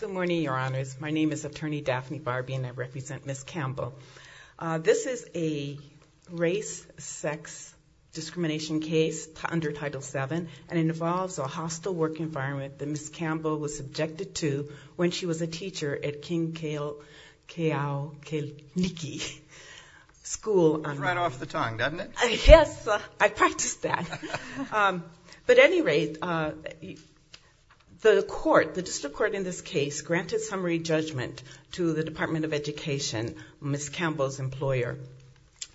Good morning, Your Honors. My name is Attorney Daphne Barbie, and I represent Ms. Campbell. This is a race-sex discrimination case under Title VII, and it involves a hostile work But at any rate, the District Court in this case granted summary judgment to the Department of Education, Ms. Campbell's employer.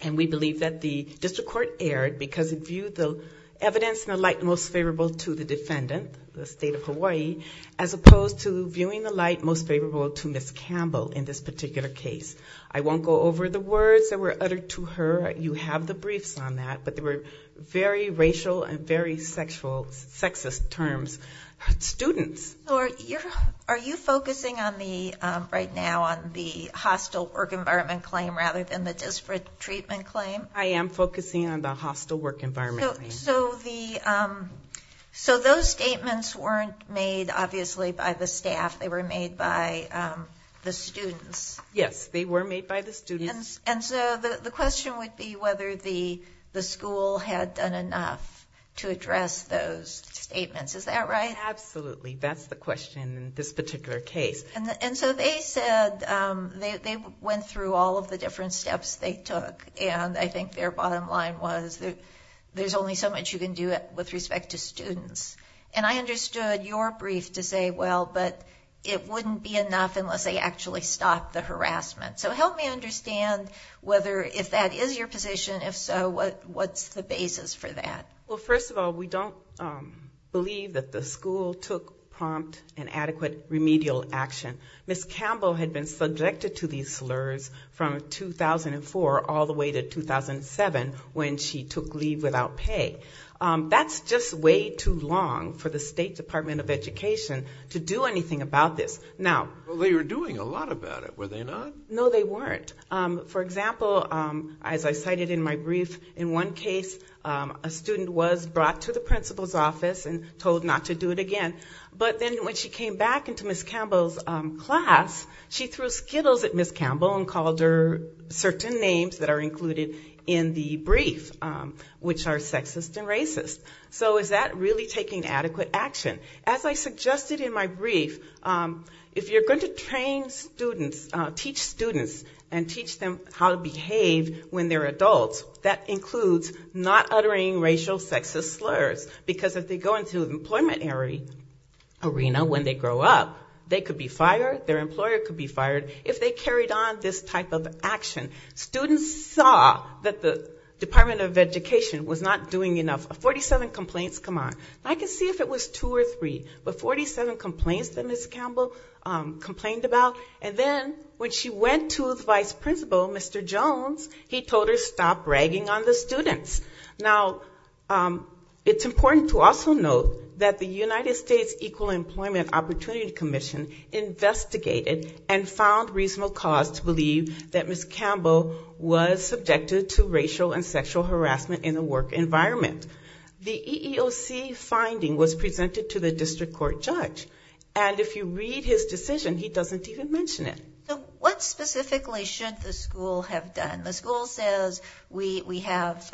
And we believe that the District Court erred because it viewed the evidence in the light most favorable to the defendant, the State of Hawaii, as opposed to viewing the light most favorable to Ms. Campbell in this particular case. I won't go over the words that were uttered to her. You have the briefs on that. But they were very racial and very sexist terms. Students. Are you focusing right now on the hostile work environment claim rather than the disparate treatment claim? I am focusing on the hostile work environment claim. So those statements weren't made, obviously, by the staff. They were made by the students. Yes, they were made by the students. And so the question would be whether the school had done enough to address those statements. Is that right? Absolutely. That's the question in this particular case. And so they said they went through all of the different steps they took. And I think their bottom line was there's only so much you can do with respect to students. And I understood your brief to say, well, but it wouldn't be enough unless they actually stopped the harassment. So help me understand whether, if that is your position, if so, what's the basis for that? Well, first of all, we don't believe that the school took prompt and adequate remedial action. Ms. Campbell had been subjected to these slurs from 2004 all the way to 2007 when she took leave without pay. That's just way too long for the State Department of Education to do anything about this. Well, they were doing a lot about it, were they not? No, they weren't. For example, as I cited in my brief, in one case a student was brought to the principal's office and told not to do it again. But then when she came back into Ms. Campbell's class, she threw skittles at Ms. Campbell and called her certain names that are included in the brief, which are sexist and racist. So is that really taking adequate action? As I suggested in my brief, if you're going to train students, teach students and teach them how to behave when they're adults, that includes not uttering racial, sexist slurs, because if they go into the employment arena when they grow up, they could be fired, their employer could be fired if they carried on this type of action. Students saw that the Department of Education was not doing enough. 47 complaints come on. I can see if it was two or three, but 47 complaints that Ms. Campbell complained about. And then when she went to the vice principal, Mr. Jones, he told her stop bragging on the students. Now, it's important to also note that the United States Equal Employment Opportunity Commission investigated and found reasonable cause to believe that Ms. Campbell was subjected to racial and sexual harassment in the work environment. The EEOC finding was presented to the district court judge. And if you read his decision, he doesn't even mention it. So what specifically should the school have done? The school says we have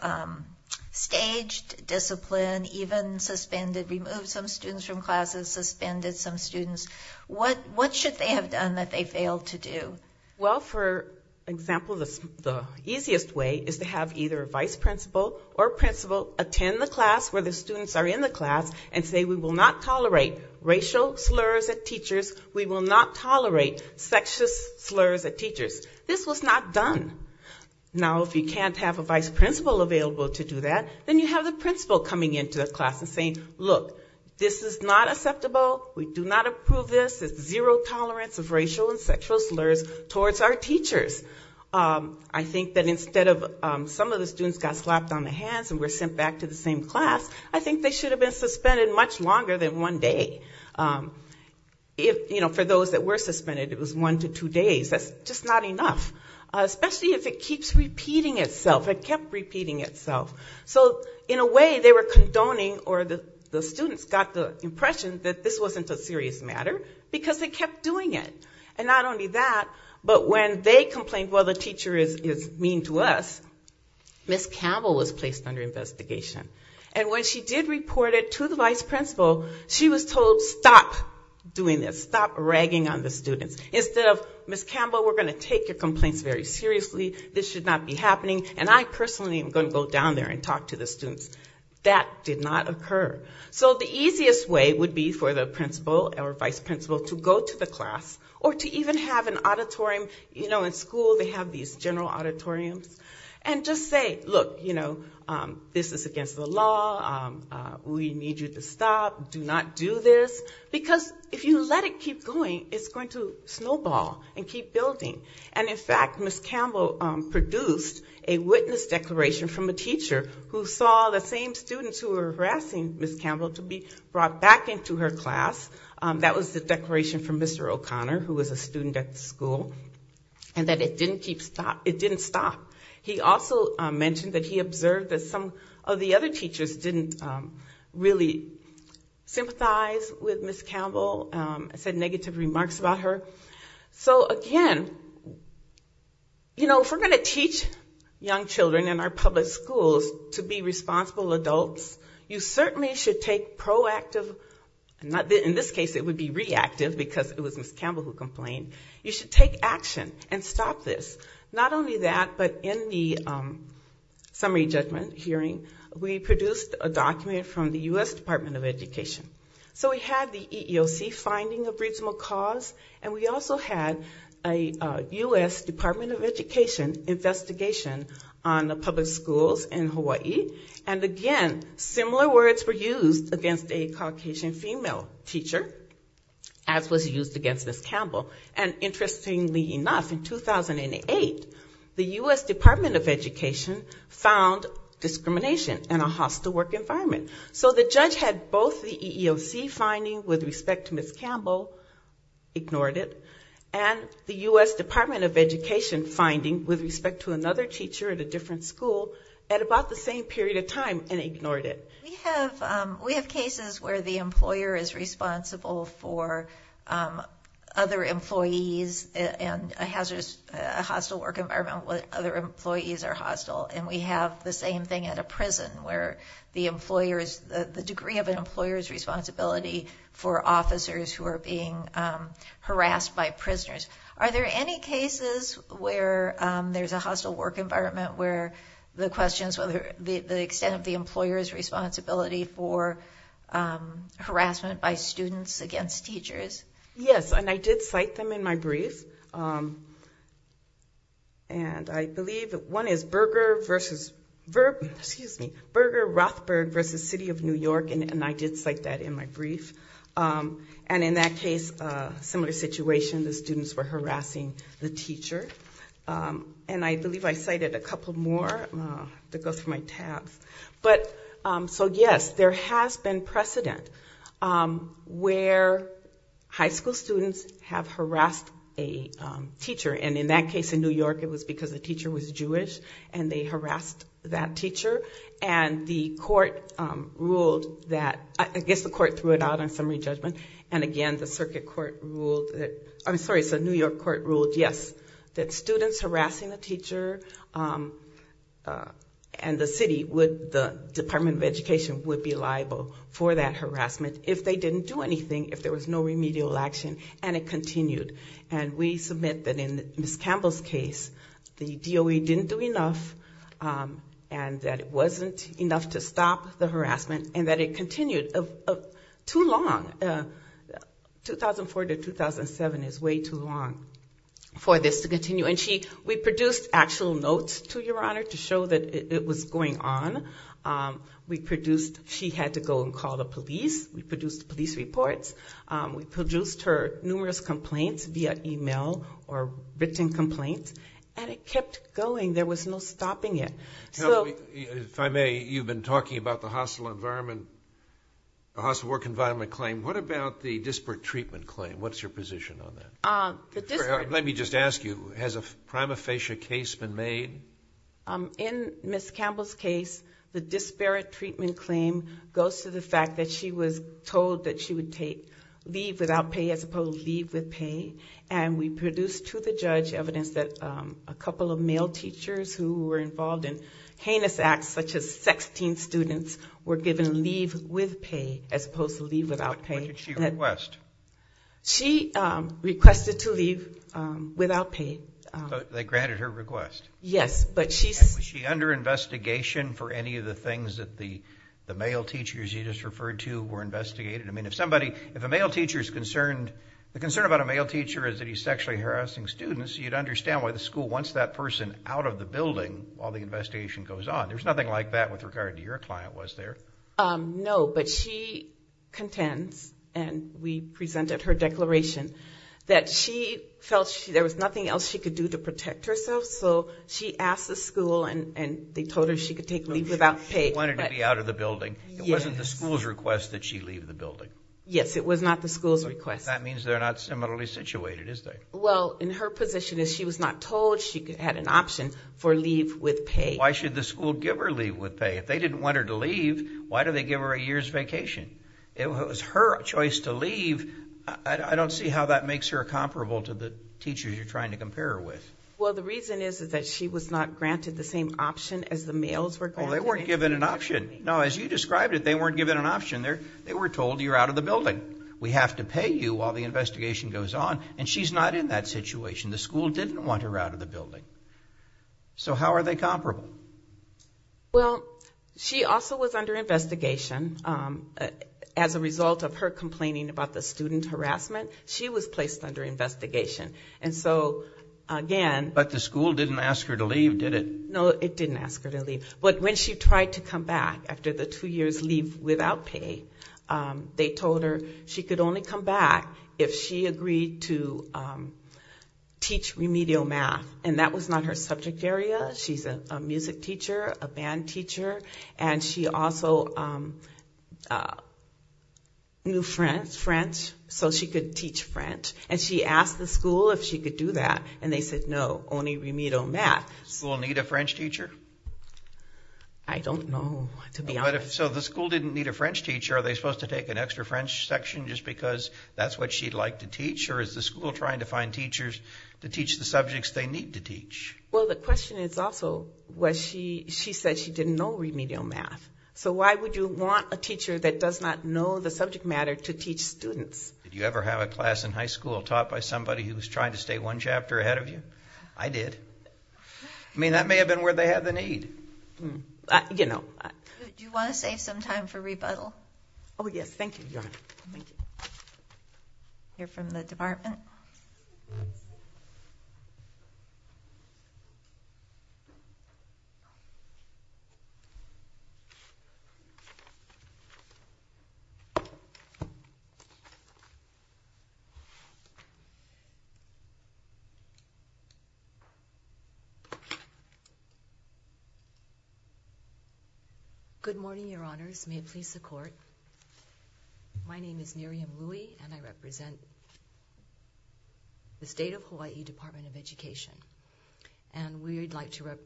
staged discipline, even suspended, removed some students from classes, suspended some students. What should they have done that they failed to do? Well, for example, the easiest way is to have either a vice principal or principal attend the class where the students are in the class and say we will not tolerate racial slurs at teachers, we will not tolerate sexist slurs at teachers. This was not done. Now, if you can't have a vice principal available to do that, then you have the principal coming into the class and saying, look, this is not acceptable, we do not approve this, there's zero tolerance of racial and sexual slurs towards our teachers. I think that instead of some of the students got slapped on the hands and were sent back to the same class, I think they should have been suspended much longer than one day. For those that were suspended, it was one to two days. That's just not enough. Especially if it keeps repeating itself. It kept repeating itself. So in a way, they were condoning or the students got the impression that this wasn't a serious matter because they kept doing it. And not only that, but when they complained, well, the teacher is mean to us, Ms. Campbell was placed under investigation. And when she did report it to the vice principal, she was told, stop doing this, stop ragging on the students. Instead of, Ms. Campbell, we're going to take your complaints very seriously, this should not be happening, and I personally am going to go down there and talk to the students. That did not occur. So the easiest way would be for the principal or vice principal to go to the class or to even have an auditorium, you know, in school they have these general auditoriums, and just say, look, you know, this is against the law, we need you to stop, do not do this, because if you let it keep going, it's going to snowball and keep building. And in fact, Ms. Campbell produced a witness declaration from a teacher who saw the same students who were harassing Ms. Campbell to be brought back into her class. That was the declaration from Mr. O'Connor, who was a student at the school, and that it didn't stop. He also mentioned that he observed that some of the other teachers didn't really sympathize with Ms. Campbell, said negative remarks about her. So again, you know, if we're going to teach young children in our public schools to be responsible adults, you certainly should take proactive, in this case it would be reactive because it was Ms. Campbell who complained, you should take action and stop this. Not only that, but in the summary judgment hearing, we produced a document from the U.S. Department of Education. So we had the EEOC finding of reasonable cause, and we also had a U.S. Department of Education investigation on the public schools in Hawaii. And again, similar words were used against a Caucasian female teacher, as was used against Ms. Campbell. And interestingly enough, in 2008, the U.S. Department of Education found discrimination in a hostile work environment. So the judge had both the EEOC finding with respect to Ms. Campbell, ignored it, and the U.S. Department of Education finding with respect to another teacher at a different school at about the same period of time, and ignored it. We have cases where the employer is responsible for other employees and has a hostile work environment where other employees are hostile. And we have the same thing at a prison where the degree of an employer's responsibility for officers who are being harassed by prisoners. Are there any cases where there's a hostile work environment where the extent of the employer's responsibility for harassment by students against teachers? Yes, and I did cite them in my brief. And I believe that one is Berger versus, excuse me, Berger-Rothberg versus City of New York, and I did cite that in my brief. And in that case, a similar situation, the students were harassing the teacher. And I believe I cited a couple more. That goes for my tabs. So yes, there has been precedent where high school students have harassed a teacher. And in that case in New York, it was because the teacher was Jewish, and they harassed that teacher. And the court ruled that – I guess the court threw it out on summary judgment. And again, the circuit court ruled that – I'm sorry, the New York court ruled, yes, that students harassing a teacher and the city, the Department of Education, would be liable for that harassment if they didn't do anything, if there was no remedial action. And it continued. And we submit that in Ms. Campbell's case, the DOE didn't do enough and that it wasn't enough to stop the harassment. And that it continued too long. 2004 to 2007 is way too long for this to continue. And we produced actual notes to Your Honor to show that it was going on. We produced – she had to go and call the police. We produced police reports. We produced her numerous complaints via email or written complaints. And it kept going. There was no stopping it. If I may, you've been talking about the hostile work environment claim. What about the disparate treatment claim? What's your position on that? Let me just ask you, has a prima facie case been made? In Ms. Campbell's case, the disparate treatment claim goes to the fact that she was told that she would leave without pay as opposed to leave with pay. And we produced to the judge evidence that a couple of male teachers who were involved in heinous acts such as sexting students were given leave with pay as opposed to leave without pay. What did she request? She requested to leave without pay. They granted her request? Yes, but she's – And was she under investigation for any of the things that the male teachers you just referred to were investigated? I mean, if somebody – if a male teacher is concerned – the concern about a male teacher is that he's sexually harassing students, you'd understand why the school wants that person out of the building while the investigation goes on. There's nothing like that with regard to your client, was there? No, but she contends, and we presented her declaration, that she felt there was nothing else she could do to protect herself. So she asked the school, and they told her she could take leave without pay. She wanted to be out of the building. It wasn't the school's request that she leave the building? Yes, it was not the school's request. That means they're not similarly situated, is there? Well, in her position is she was not told she had an option for leave with pay. Why should the school give her leave with pay? If they didn't want her to leave, why do they give her a year's vacation? It was her choice to leave. I don't see how that makes her comparable to the teachers you're trying to compare her with. Well, the reason is that she was not granted the same option as the males were granted. Oh, they weren't given an option. No, as you described it, they weren't given an option. They were told you're out of the building. We have to pay you while the investigation goes on, and she's not in that situation. The school didn't want her out of the building. So how are they comparable? Well, she also was under investigation. As a result of her complaining about the student harassment, she was placed under investigation. And so, again... But the school didn't ask her to leave, did it? No, it didn't ask her to leave. But when she tried to come back after the two years leave without pay, they told her she could only come back if she agreed to teach remedial math. And that was not her subject area. She's a music teacher, a band teacher, and she also knew French, so she could teach French. And she asked the school if she could do that, and they said no, only remedial math. Did the school need a French teacher? I don't know, to be honest. So the school didn't need a French teacher. Are they supposed to take an extra French section just because that's what she'd like to teach? Or is the school trying to find teachers to teach the subjects they need to teach? Well, the question is also, she said she didn't know remedial math. So why would you want a teacher that does not know the subject matter to teach students? Did you ever have a class in high school taught by somebody who was trying to stay one chapter ahead of you? I did. I mean, that may have been where they had the need. Do you want to save some time for rebuttal? Oh, yes, thank you. Thank you. We'll hear from the department. Good morning, Your Honors. May it please the Court. My name is Miriam Rui, and I represent the State of Hawaii Department of Education. And we'd like to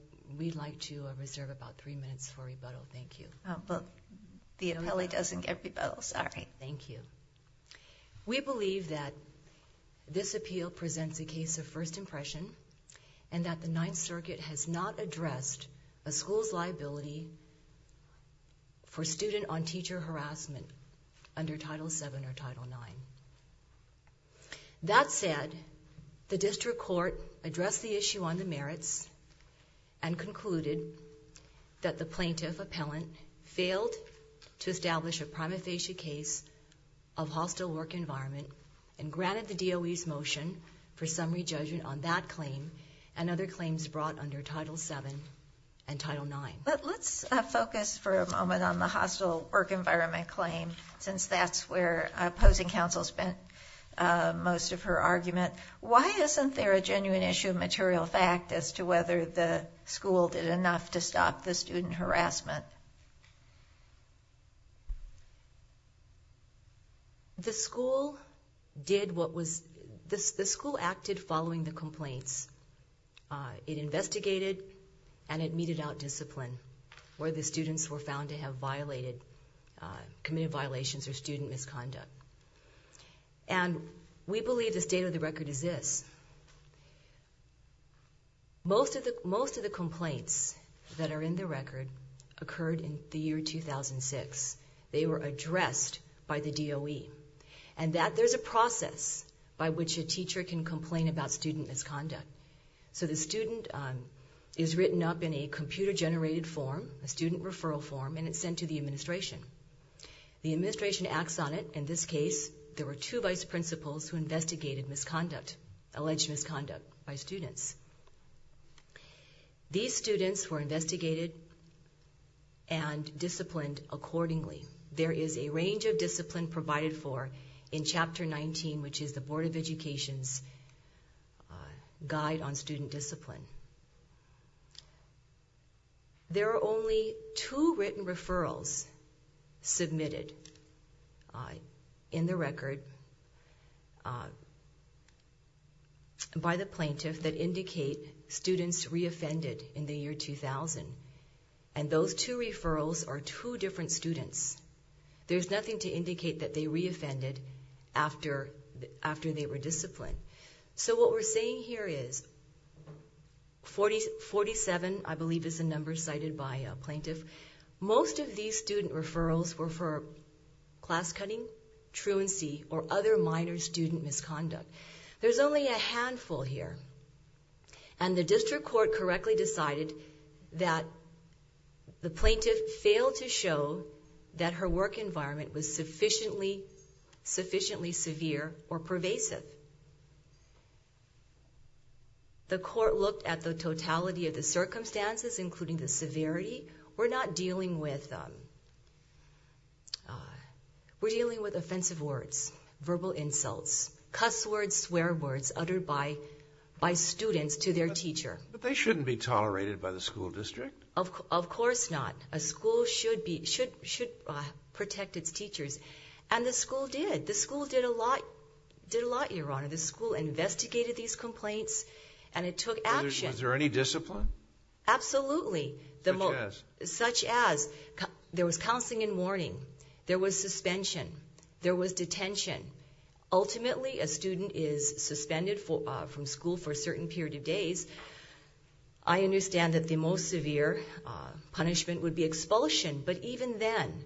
reserve about three minutes for rebuttal, thank you. Oh, but the appellee doesn't get rebuttal, sorry. Thank you. We believe that this appeal presents a case of first impression, and that the Ninth Circuit has not addressed a school's liability for student-on-teacher harassment under Title VII or Title IX. That said, the district court addressed the issue on the merits and concluded that the plaintiff appellant failed to establish a prima facie case of hostile work environment and granted the DOE's motion for summary judgment on that claim and other claims brought under Title VII and Title IX. But let's focus for a moment on the hostile work environment claim, since that's where opposing counsel spent most of her argument. Why isn't there a genuine issue of material fact as to whether the school did enough to stop the student harassment? The school acted following the complaints. It investigated and it meted out discipline where the students were found to have committed violations or student misconduct. And we believe the state of the record is this. Most of the complaints that are in the record occurred in the year 2006. They were addressed by the DOE. And there's a process by which a teacher can complain about student misconduct. So the student is written up in a computer-generated form, a student referral form, and it's sent to the administration. The administration acts on it. In this case, there were two vice principals who investigated alleged misconduct by students. These students were investigated and disciplined accordingly. There is a range of discipline provided for in Chapter 19, which is the Board of Education's Guide on Student Discipline. There are only two written referrals submitted in the record by the plaintiff that indicate students re-offended in the year 2000. And those two referrals are two different students. There's nothing to indicate that they re-offended after they were disciplined. So what we're seeing here is 47, I believe, is the number cited by a plaintiff. Most of these student referrals were for class-cutting, truancy, or other minor student misconduct. There's only a handful here. And the district court correctly decided that the plaintiff failed to show that her work environment was sufficiently severe or pervasive. The court looked at the totality of the circumstances, including the severity. We're not dealing with offensive words, verbal insults, cuss words, swear words uttered by students to their teacher. But they shouldn't be tolerated by the school district. Of course not. A school should protect its teachers. And the school did. The school did a lot, Your Honor. The school investigated these complaints and it took action. Was there any discipline? Absolutely. Such as? Such as there was counseling and warning. There was suspension. There was detention. Ultimately, a student is suspended from school for a certain period of days. I understand that the most severe punishment would be expulsion. But even then,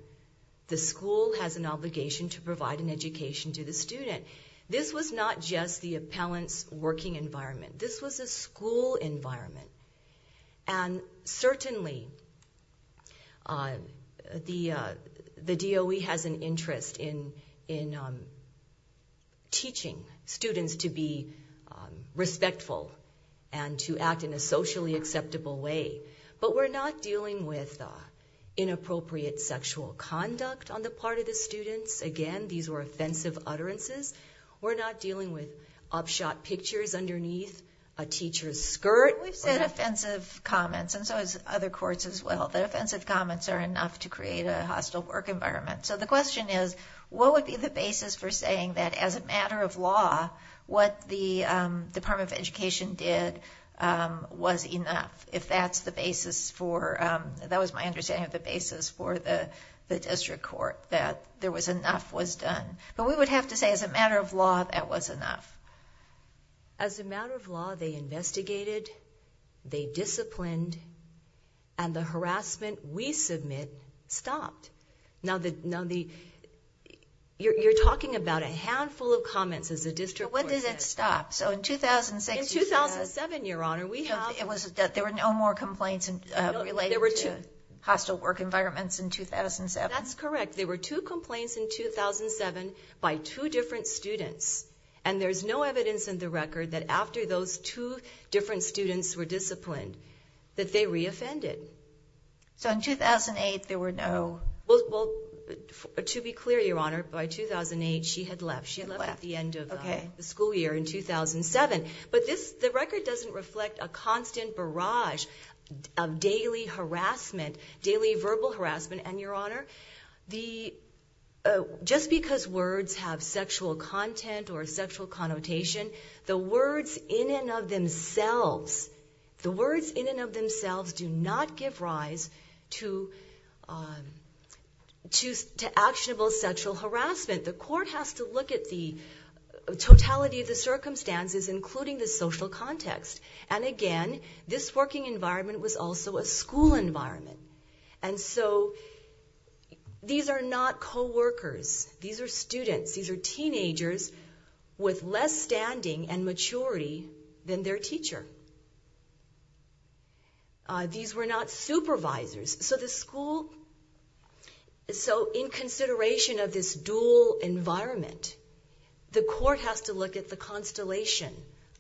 the school has an obligation to provide an education to the student. This was not just the appellant's working environment. This was a school environment. And certainly, the DOE has an interest in teaching students to be respectful and to act in a socially acceptable way. But we're not dealing with inappropriate sexual conduct on the part of the students. Again, these were offensive utterances. We're not dealing with upshot pictures underneath a teacher's skirt. We've said offensive comments, and so has other courts as well, that offensive comments are enough to create a hostile work environment. So the question is, what would be the basis for saying that as a matter of law, what the Department of Education did was enough? If that's the basis for, that was my understanding of the basis for the district court, that there was enough was done. But we would have to say, as a matter of law, that was enough. As a matter of law, they investigated, they disciplined, and the harassment we submit stopped. Now, you're talking about a handful of comments as a district court. So when did it stop? So in 2006, you said that. In 2007, Your Honor, we have. There were no more complaints related to hostile work environments in 2007? That's correct. There were two complaints in 2007 by two different students, and there's no evidence in the record that after those two different students were disciplined, that they re-offended. So in 2008, there were no? Well, to be clear, Your Honor, by 2008, she had left. She had left at the end of the school year in 2007. But the record doesn't reflect a constant barrage of daily harassment, daily verbal harassment. Just because words have sexual content or sexual connotation, the words in and of themselves do not give rise to actionable sexual harassment. The court has to look at the totality of the circumstances, including the social context. And again, this working environment was also a school environment. And so these are not co-workers. These are students. These are teenagers with less standing and maturity than their teacher. These were not supervisors. So in consideration of this dual environment, the court has to look at the constellation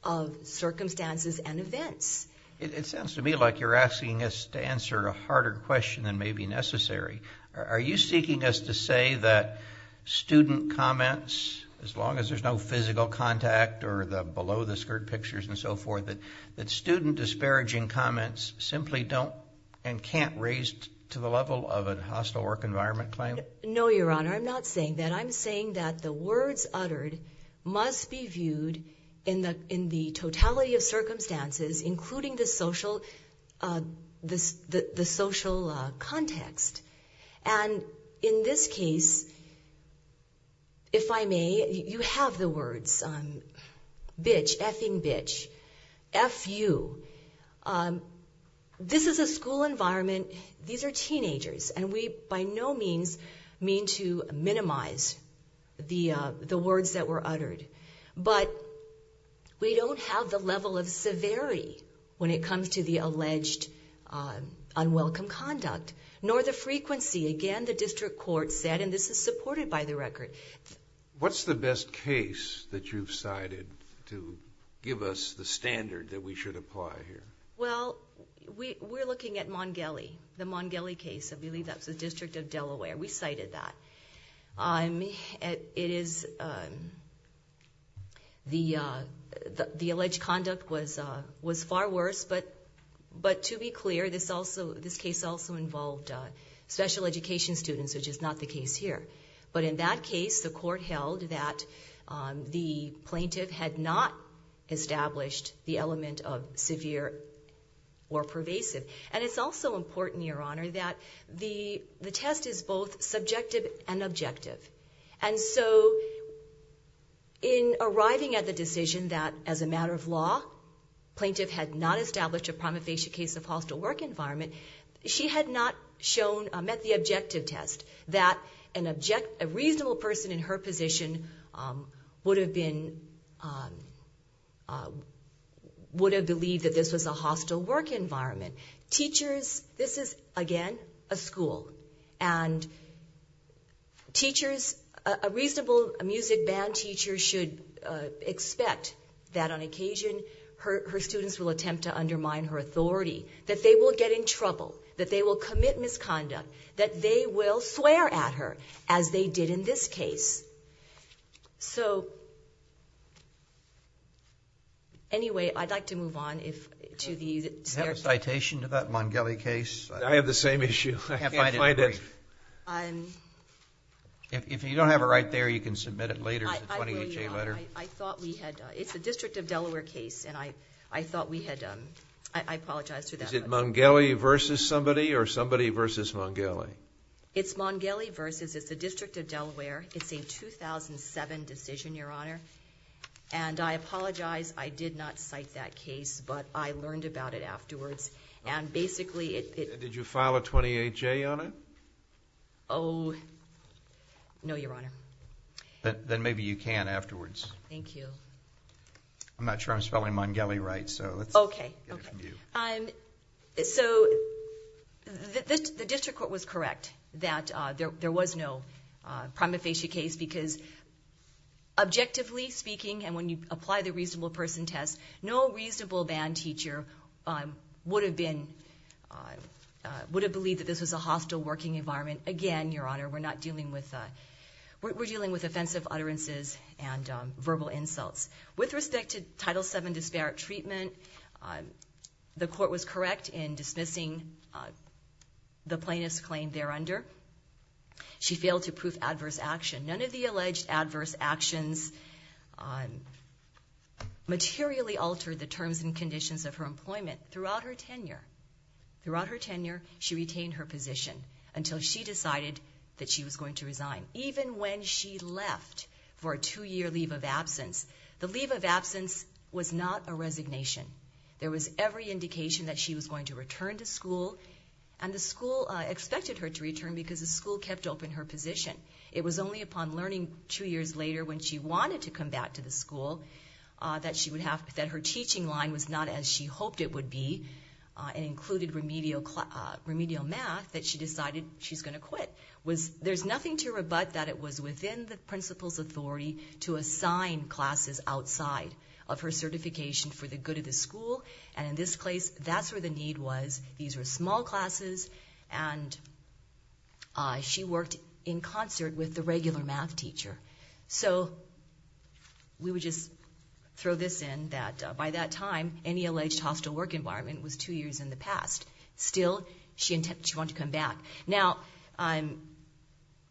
of circumstances and events. It sounds to me like you're asking us to answer a harder question than may be necessary. Are you seeking us to say that student comments, as long as there's no physical contact or below the skirt pictures and so forth, that student disparaging comments simply don't and can't raise to the level of a hostile work environment claim? No, Your Honor. I'm not saying that. I'm saying that the words uttered must be viewed in the totality of circumstances, including the social context. And in this case, if I may, you have the words bitch, effing bitch, F-U. This is a school environment. These are teenagers. And we by no means mean to minimize the words that were uttered. But we don't have the level of severity when it comes to the alleged unwelcome conduct, nor the frequency. Again, the district court said, and this is supported by the record. What's the best case that you've cited to give us the standard that we should apply here? Well, we're looking at Mongeli, the Mongeli case. I believe that was the District of Delaware. We cited that. The alleged conduct was far worse. But to be clear, this case also involved special education students, which is not the case here. But in that case, the court held that the plaintiff had not established the element of severe or pervasive. And it's also important, Your Honor, that the test is both subjective and objective. And so in arriving at the decision that, as a matter of law, plaintiff had not established a prima facie case of hostile work environment, she had not shown, met the objective test that a reasonable person in her position would have believed that this was a hostile work environment. Teachers, this is, again, a school. And a reasonable music band teacher should expect that on occasion her students will attempt to undermine her authority, that they will get in trouble, that they will commit misconduct, that they will swear at her, as they did in this case. So anyway, I'd like to move on. Do you have a citation to that Mongeli case? I have the same issue. I can't find it. If you don't have it right there, you can submit it later as a 28-J letter. I thought we had... it's a District of Delaware case. And I thought we had... I apologize for that. Is it Mongeli versus somebody or somebody versus Mongeli? It's Mongeli versus. It's the District of Delaware. It's a 2007 decision, Your Honor. And I apologize, I did not cite that case, but I learned about it afterwards. And basically... Did you file a 28-J on it? Oh, no, Your Honor. Then maybe you can afterwards. Thank you. I'm not sure I'm spelling Mongeli right, so let's get it from you. Okay. So the District Court was correct that there was no prima facie case because objectively speaking, and when you apply the reasonable person test, no reasonable band teacher would have believed that this was a hostile working environment. Again, Your Honor, we're dealing with offensive utterances and verbal insults. With respect to Title VII disparate treatment, the court was correct in dismissing the plaintiff's claim thereunder. She failed to prove adverse action. None of the alleged adverse actions materially altered the terms and conditions of her employment. Throughout her tenure, she retained her position until she decided that she was going to resign. Even when she left for a two-year leave of absence, the leave of absence was not a resignation. There was every indication that she was going to return to school, and the school expected her to return because the school kept open her position. It was only upon learning two years later when she wanted to come back to the school that her teaching line was not as she hoped it would be and included remedial math that she decided she's going to quit. There's nothing to rebut that it was within the principal's authority to assign classes outside of her certification for the good of the school, and in this case, that's where the need was. These were small classes, and she worked in concert with the regular math teacher. So we would just throw this in, that by that time, any alleged hostile work environment was two years in the past. Still, she wanted to come back. Now,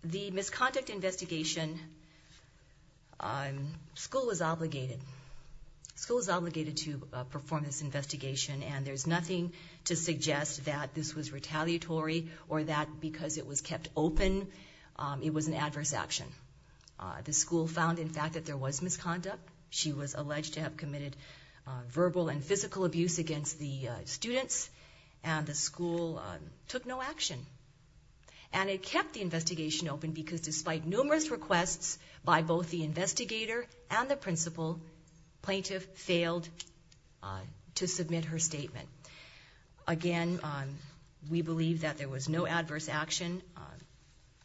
the misconduct investigation, school was obligated. School was obligated to perform this investigation, and there's nothing to suggest that this was retaliatory or that because it was kept open, it was an adverse action. The school found, in fact, that there was misconduct. She was alleged to have committed verbal and physical abuse against the students, and the school took no action. And it kept the investigation open because despite numerous requests by both the investigator and the principal, plaintiff failed to submit her statement. Again, we believe that there was no adverse action,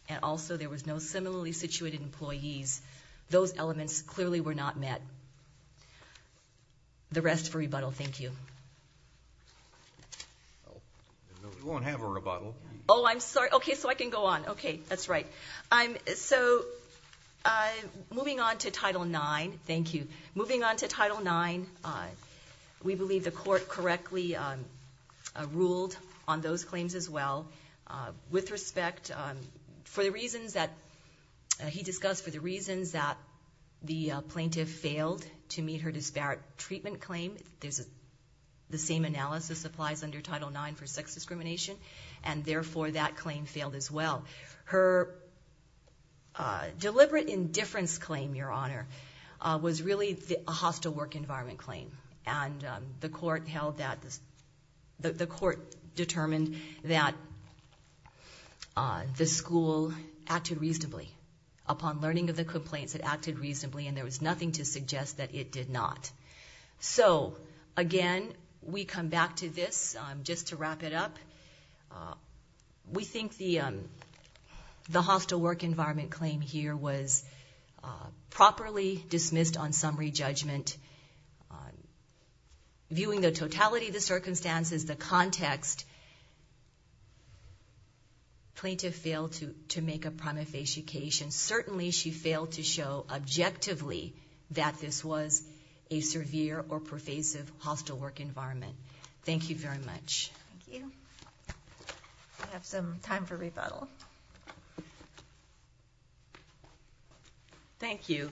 and also there was no similarly situated employees. Those elements clearly were not met. The rest for rebuttal, thank you. We won't have a rebuttal. Oh, I'm sorry. Okay, so I can go on. Okay, that's right. So moving on to Title IX, thank you. She ruled on those claims as well. With respect, for the reasons that he discussed, for the reasons that the plaintiff failed to meet her disparate treatment claim, the same analysis applies under Title IX for sex discrimination, and therefore that claim failed as well. Her deliberate indifference claim, Your Honor, was really a hostile work environment claim, and the court determined that the school acted reasonably. Upon learning of the complaints, it acted reasonably, and there was nothing to suggest that it did not. So again, we come back to this. Just to wrap it up, we think the hostile work environment claim here was properly dismissed on summary judgment. Viewing the totality of the circumstances, the context, plaintiff failed to make a prima facie case, and certainly she failed to show objectively that this was a severe or pervasive hostile work environment. Thank you very much. Thank you. We have some time for rebuttal. Thank you.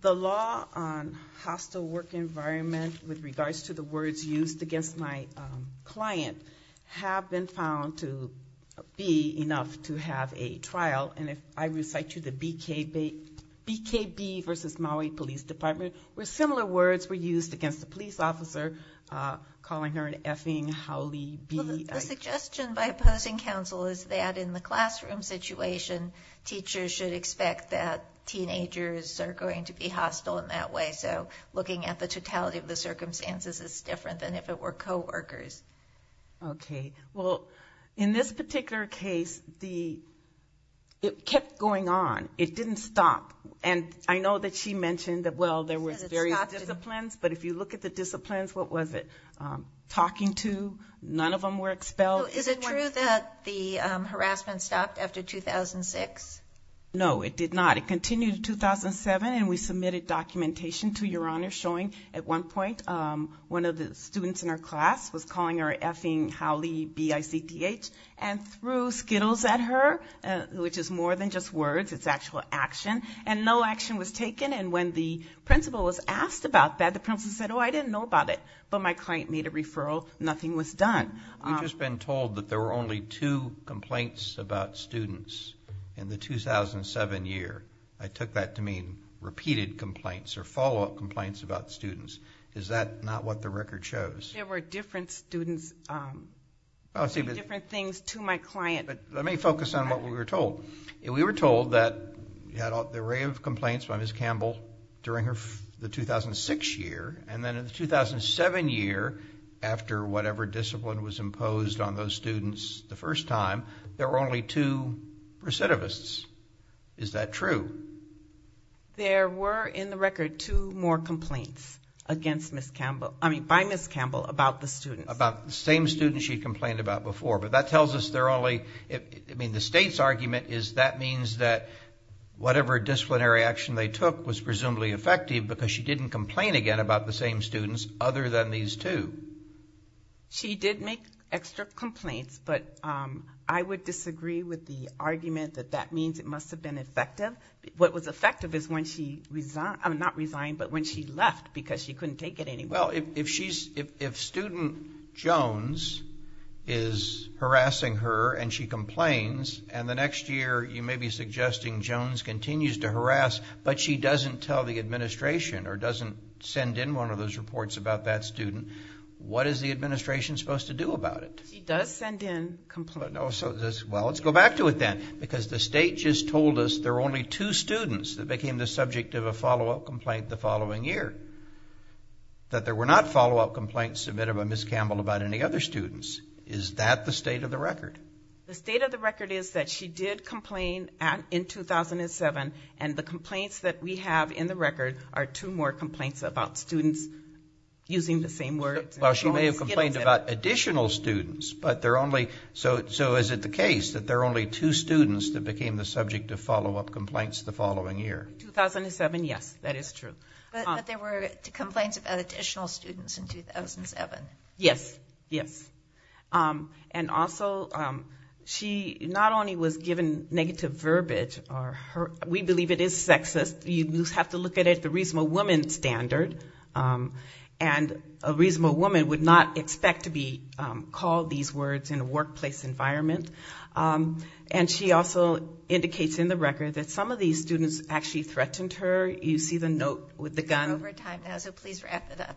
The law on hostile work environment with regards to the words used against my client have been found to be enough to have a trial, and if I recite to you the BKB versus Maui Police Department, where similar words were used against the police officer, calling her an effing howly bee. The suggestion by opposing counsel is that in the classroom situation, teachers should expect that teenagers are going to be hostile in that way. So looking at the totality of the circumstances is different than if it were coworkers. Okay. Well, in this particular case, it kept going on. It didn't stop. And I know that she mentioned that, well, there were various disciplines, but if you look at the disciplines, what was it? Talking to, none of them were expelled. Is it true that the harassment stopped after 2006? No, it did not. It continued in 2007, and we submitted documentation to Your Honor showing at one point one of the students in our class was calling her an effing howly bee, I-C-T-H, and threw Skittles at her, which is more than just words, it's actual action. And no action was taken, and when the principal was asked about that, the principal said, oh, I didn't know about it. But my client made a referral, nothing was done. You've just been told that there were only two complaints about students in the 2007 year. I took that to mean repeated complaints or follow-up complaints about students. Is that not what the record shows? There were different students, different things to my client. Let me focus on what we were told. We were told that we had an array of complaints by Ms. Campbell during the 2006 year, and then in the 2007 year, after whatever discipline was imposed on those students the first time, there were only two recidivists. Is that true? There were, in the record, two more complaints against Ms. Campbell, I mean by Ms. Campbell, about the students. About the same students she complained about before. But that tells us there are only... I mean, the state's argument is that means whatever disciplinary action they took was presumably effective because she didn't complain again about the same students other than these two. She did make extra complaints, but I would disagree with the argument that that means it must have been effective. What was effective is when she resigned, not resigned, but when she left because she couldn't take it anymore. Well, if student Jones is harassing her and she complains, and the next year you may be suggesting Jones continues to harass, but she doesn't tell the administration or doesn't send in one of those reports about that student, what is the administration supposed to do about it? She does send in complaints. Well, let's go back to it then. Because the state just told us there were only two students that became the subject of a follow-up complaint the following year. submitted by Ms. Campbell about any other students. Is that the state of the record? The state of the record is that she did complain in 2007, and the complaints that we have in the record are two more complaints about students using the same words. Well, she may have complained about additional students, but they're only... So is it the case that there are only two students that became the subject of follow-up complaints the following year? 2007, yes, that is true. But there were complaints about additional students in 2007. Yes, yes. And also, she not only was given negative verbiage... We believe it is sexist. You have to look at it at the reasonable woman standard. And a reasonable woman would not expect to be called these words in a workplace environment. And she also indicates in the record that some of these students actually threatened her. You see the note with the gun? We're over time now, so please wrap it up.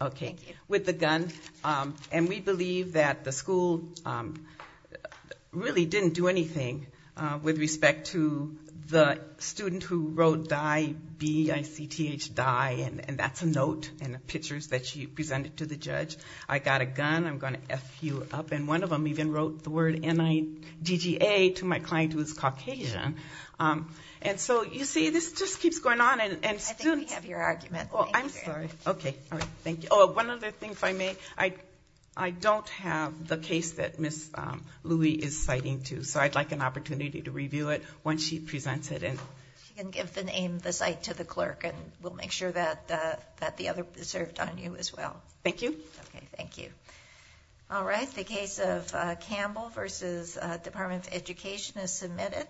Okay, with the gun. And we believe that the school really didn't do anything with respect to the student who wrote D-I-B-I-C-T-H, die, and that's a note in the pictures that she presented to the judge. I got a gun, I'm going to F you up. And one of them even wrote the word N-I-D-G-A to my client, who is Caucasian. And so, you see, this just keeps going on, and students... I think we have your argument. Oh, I'm sorry. Okay, thank you. Oh, one other thing, if I may. I don't have the case that Ms. Louie is citing, too. So I'd like an opportunity to review it once she presents it. She can give the name, the cite, to the clerk, and we'll make sure that the other is served on you as well. Thank you. Okay, thank you. All right, the case of Campbell versus Department of Education is submitted.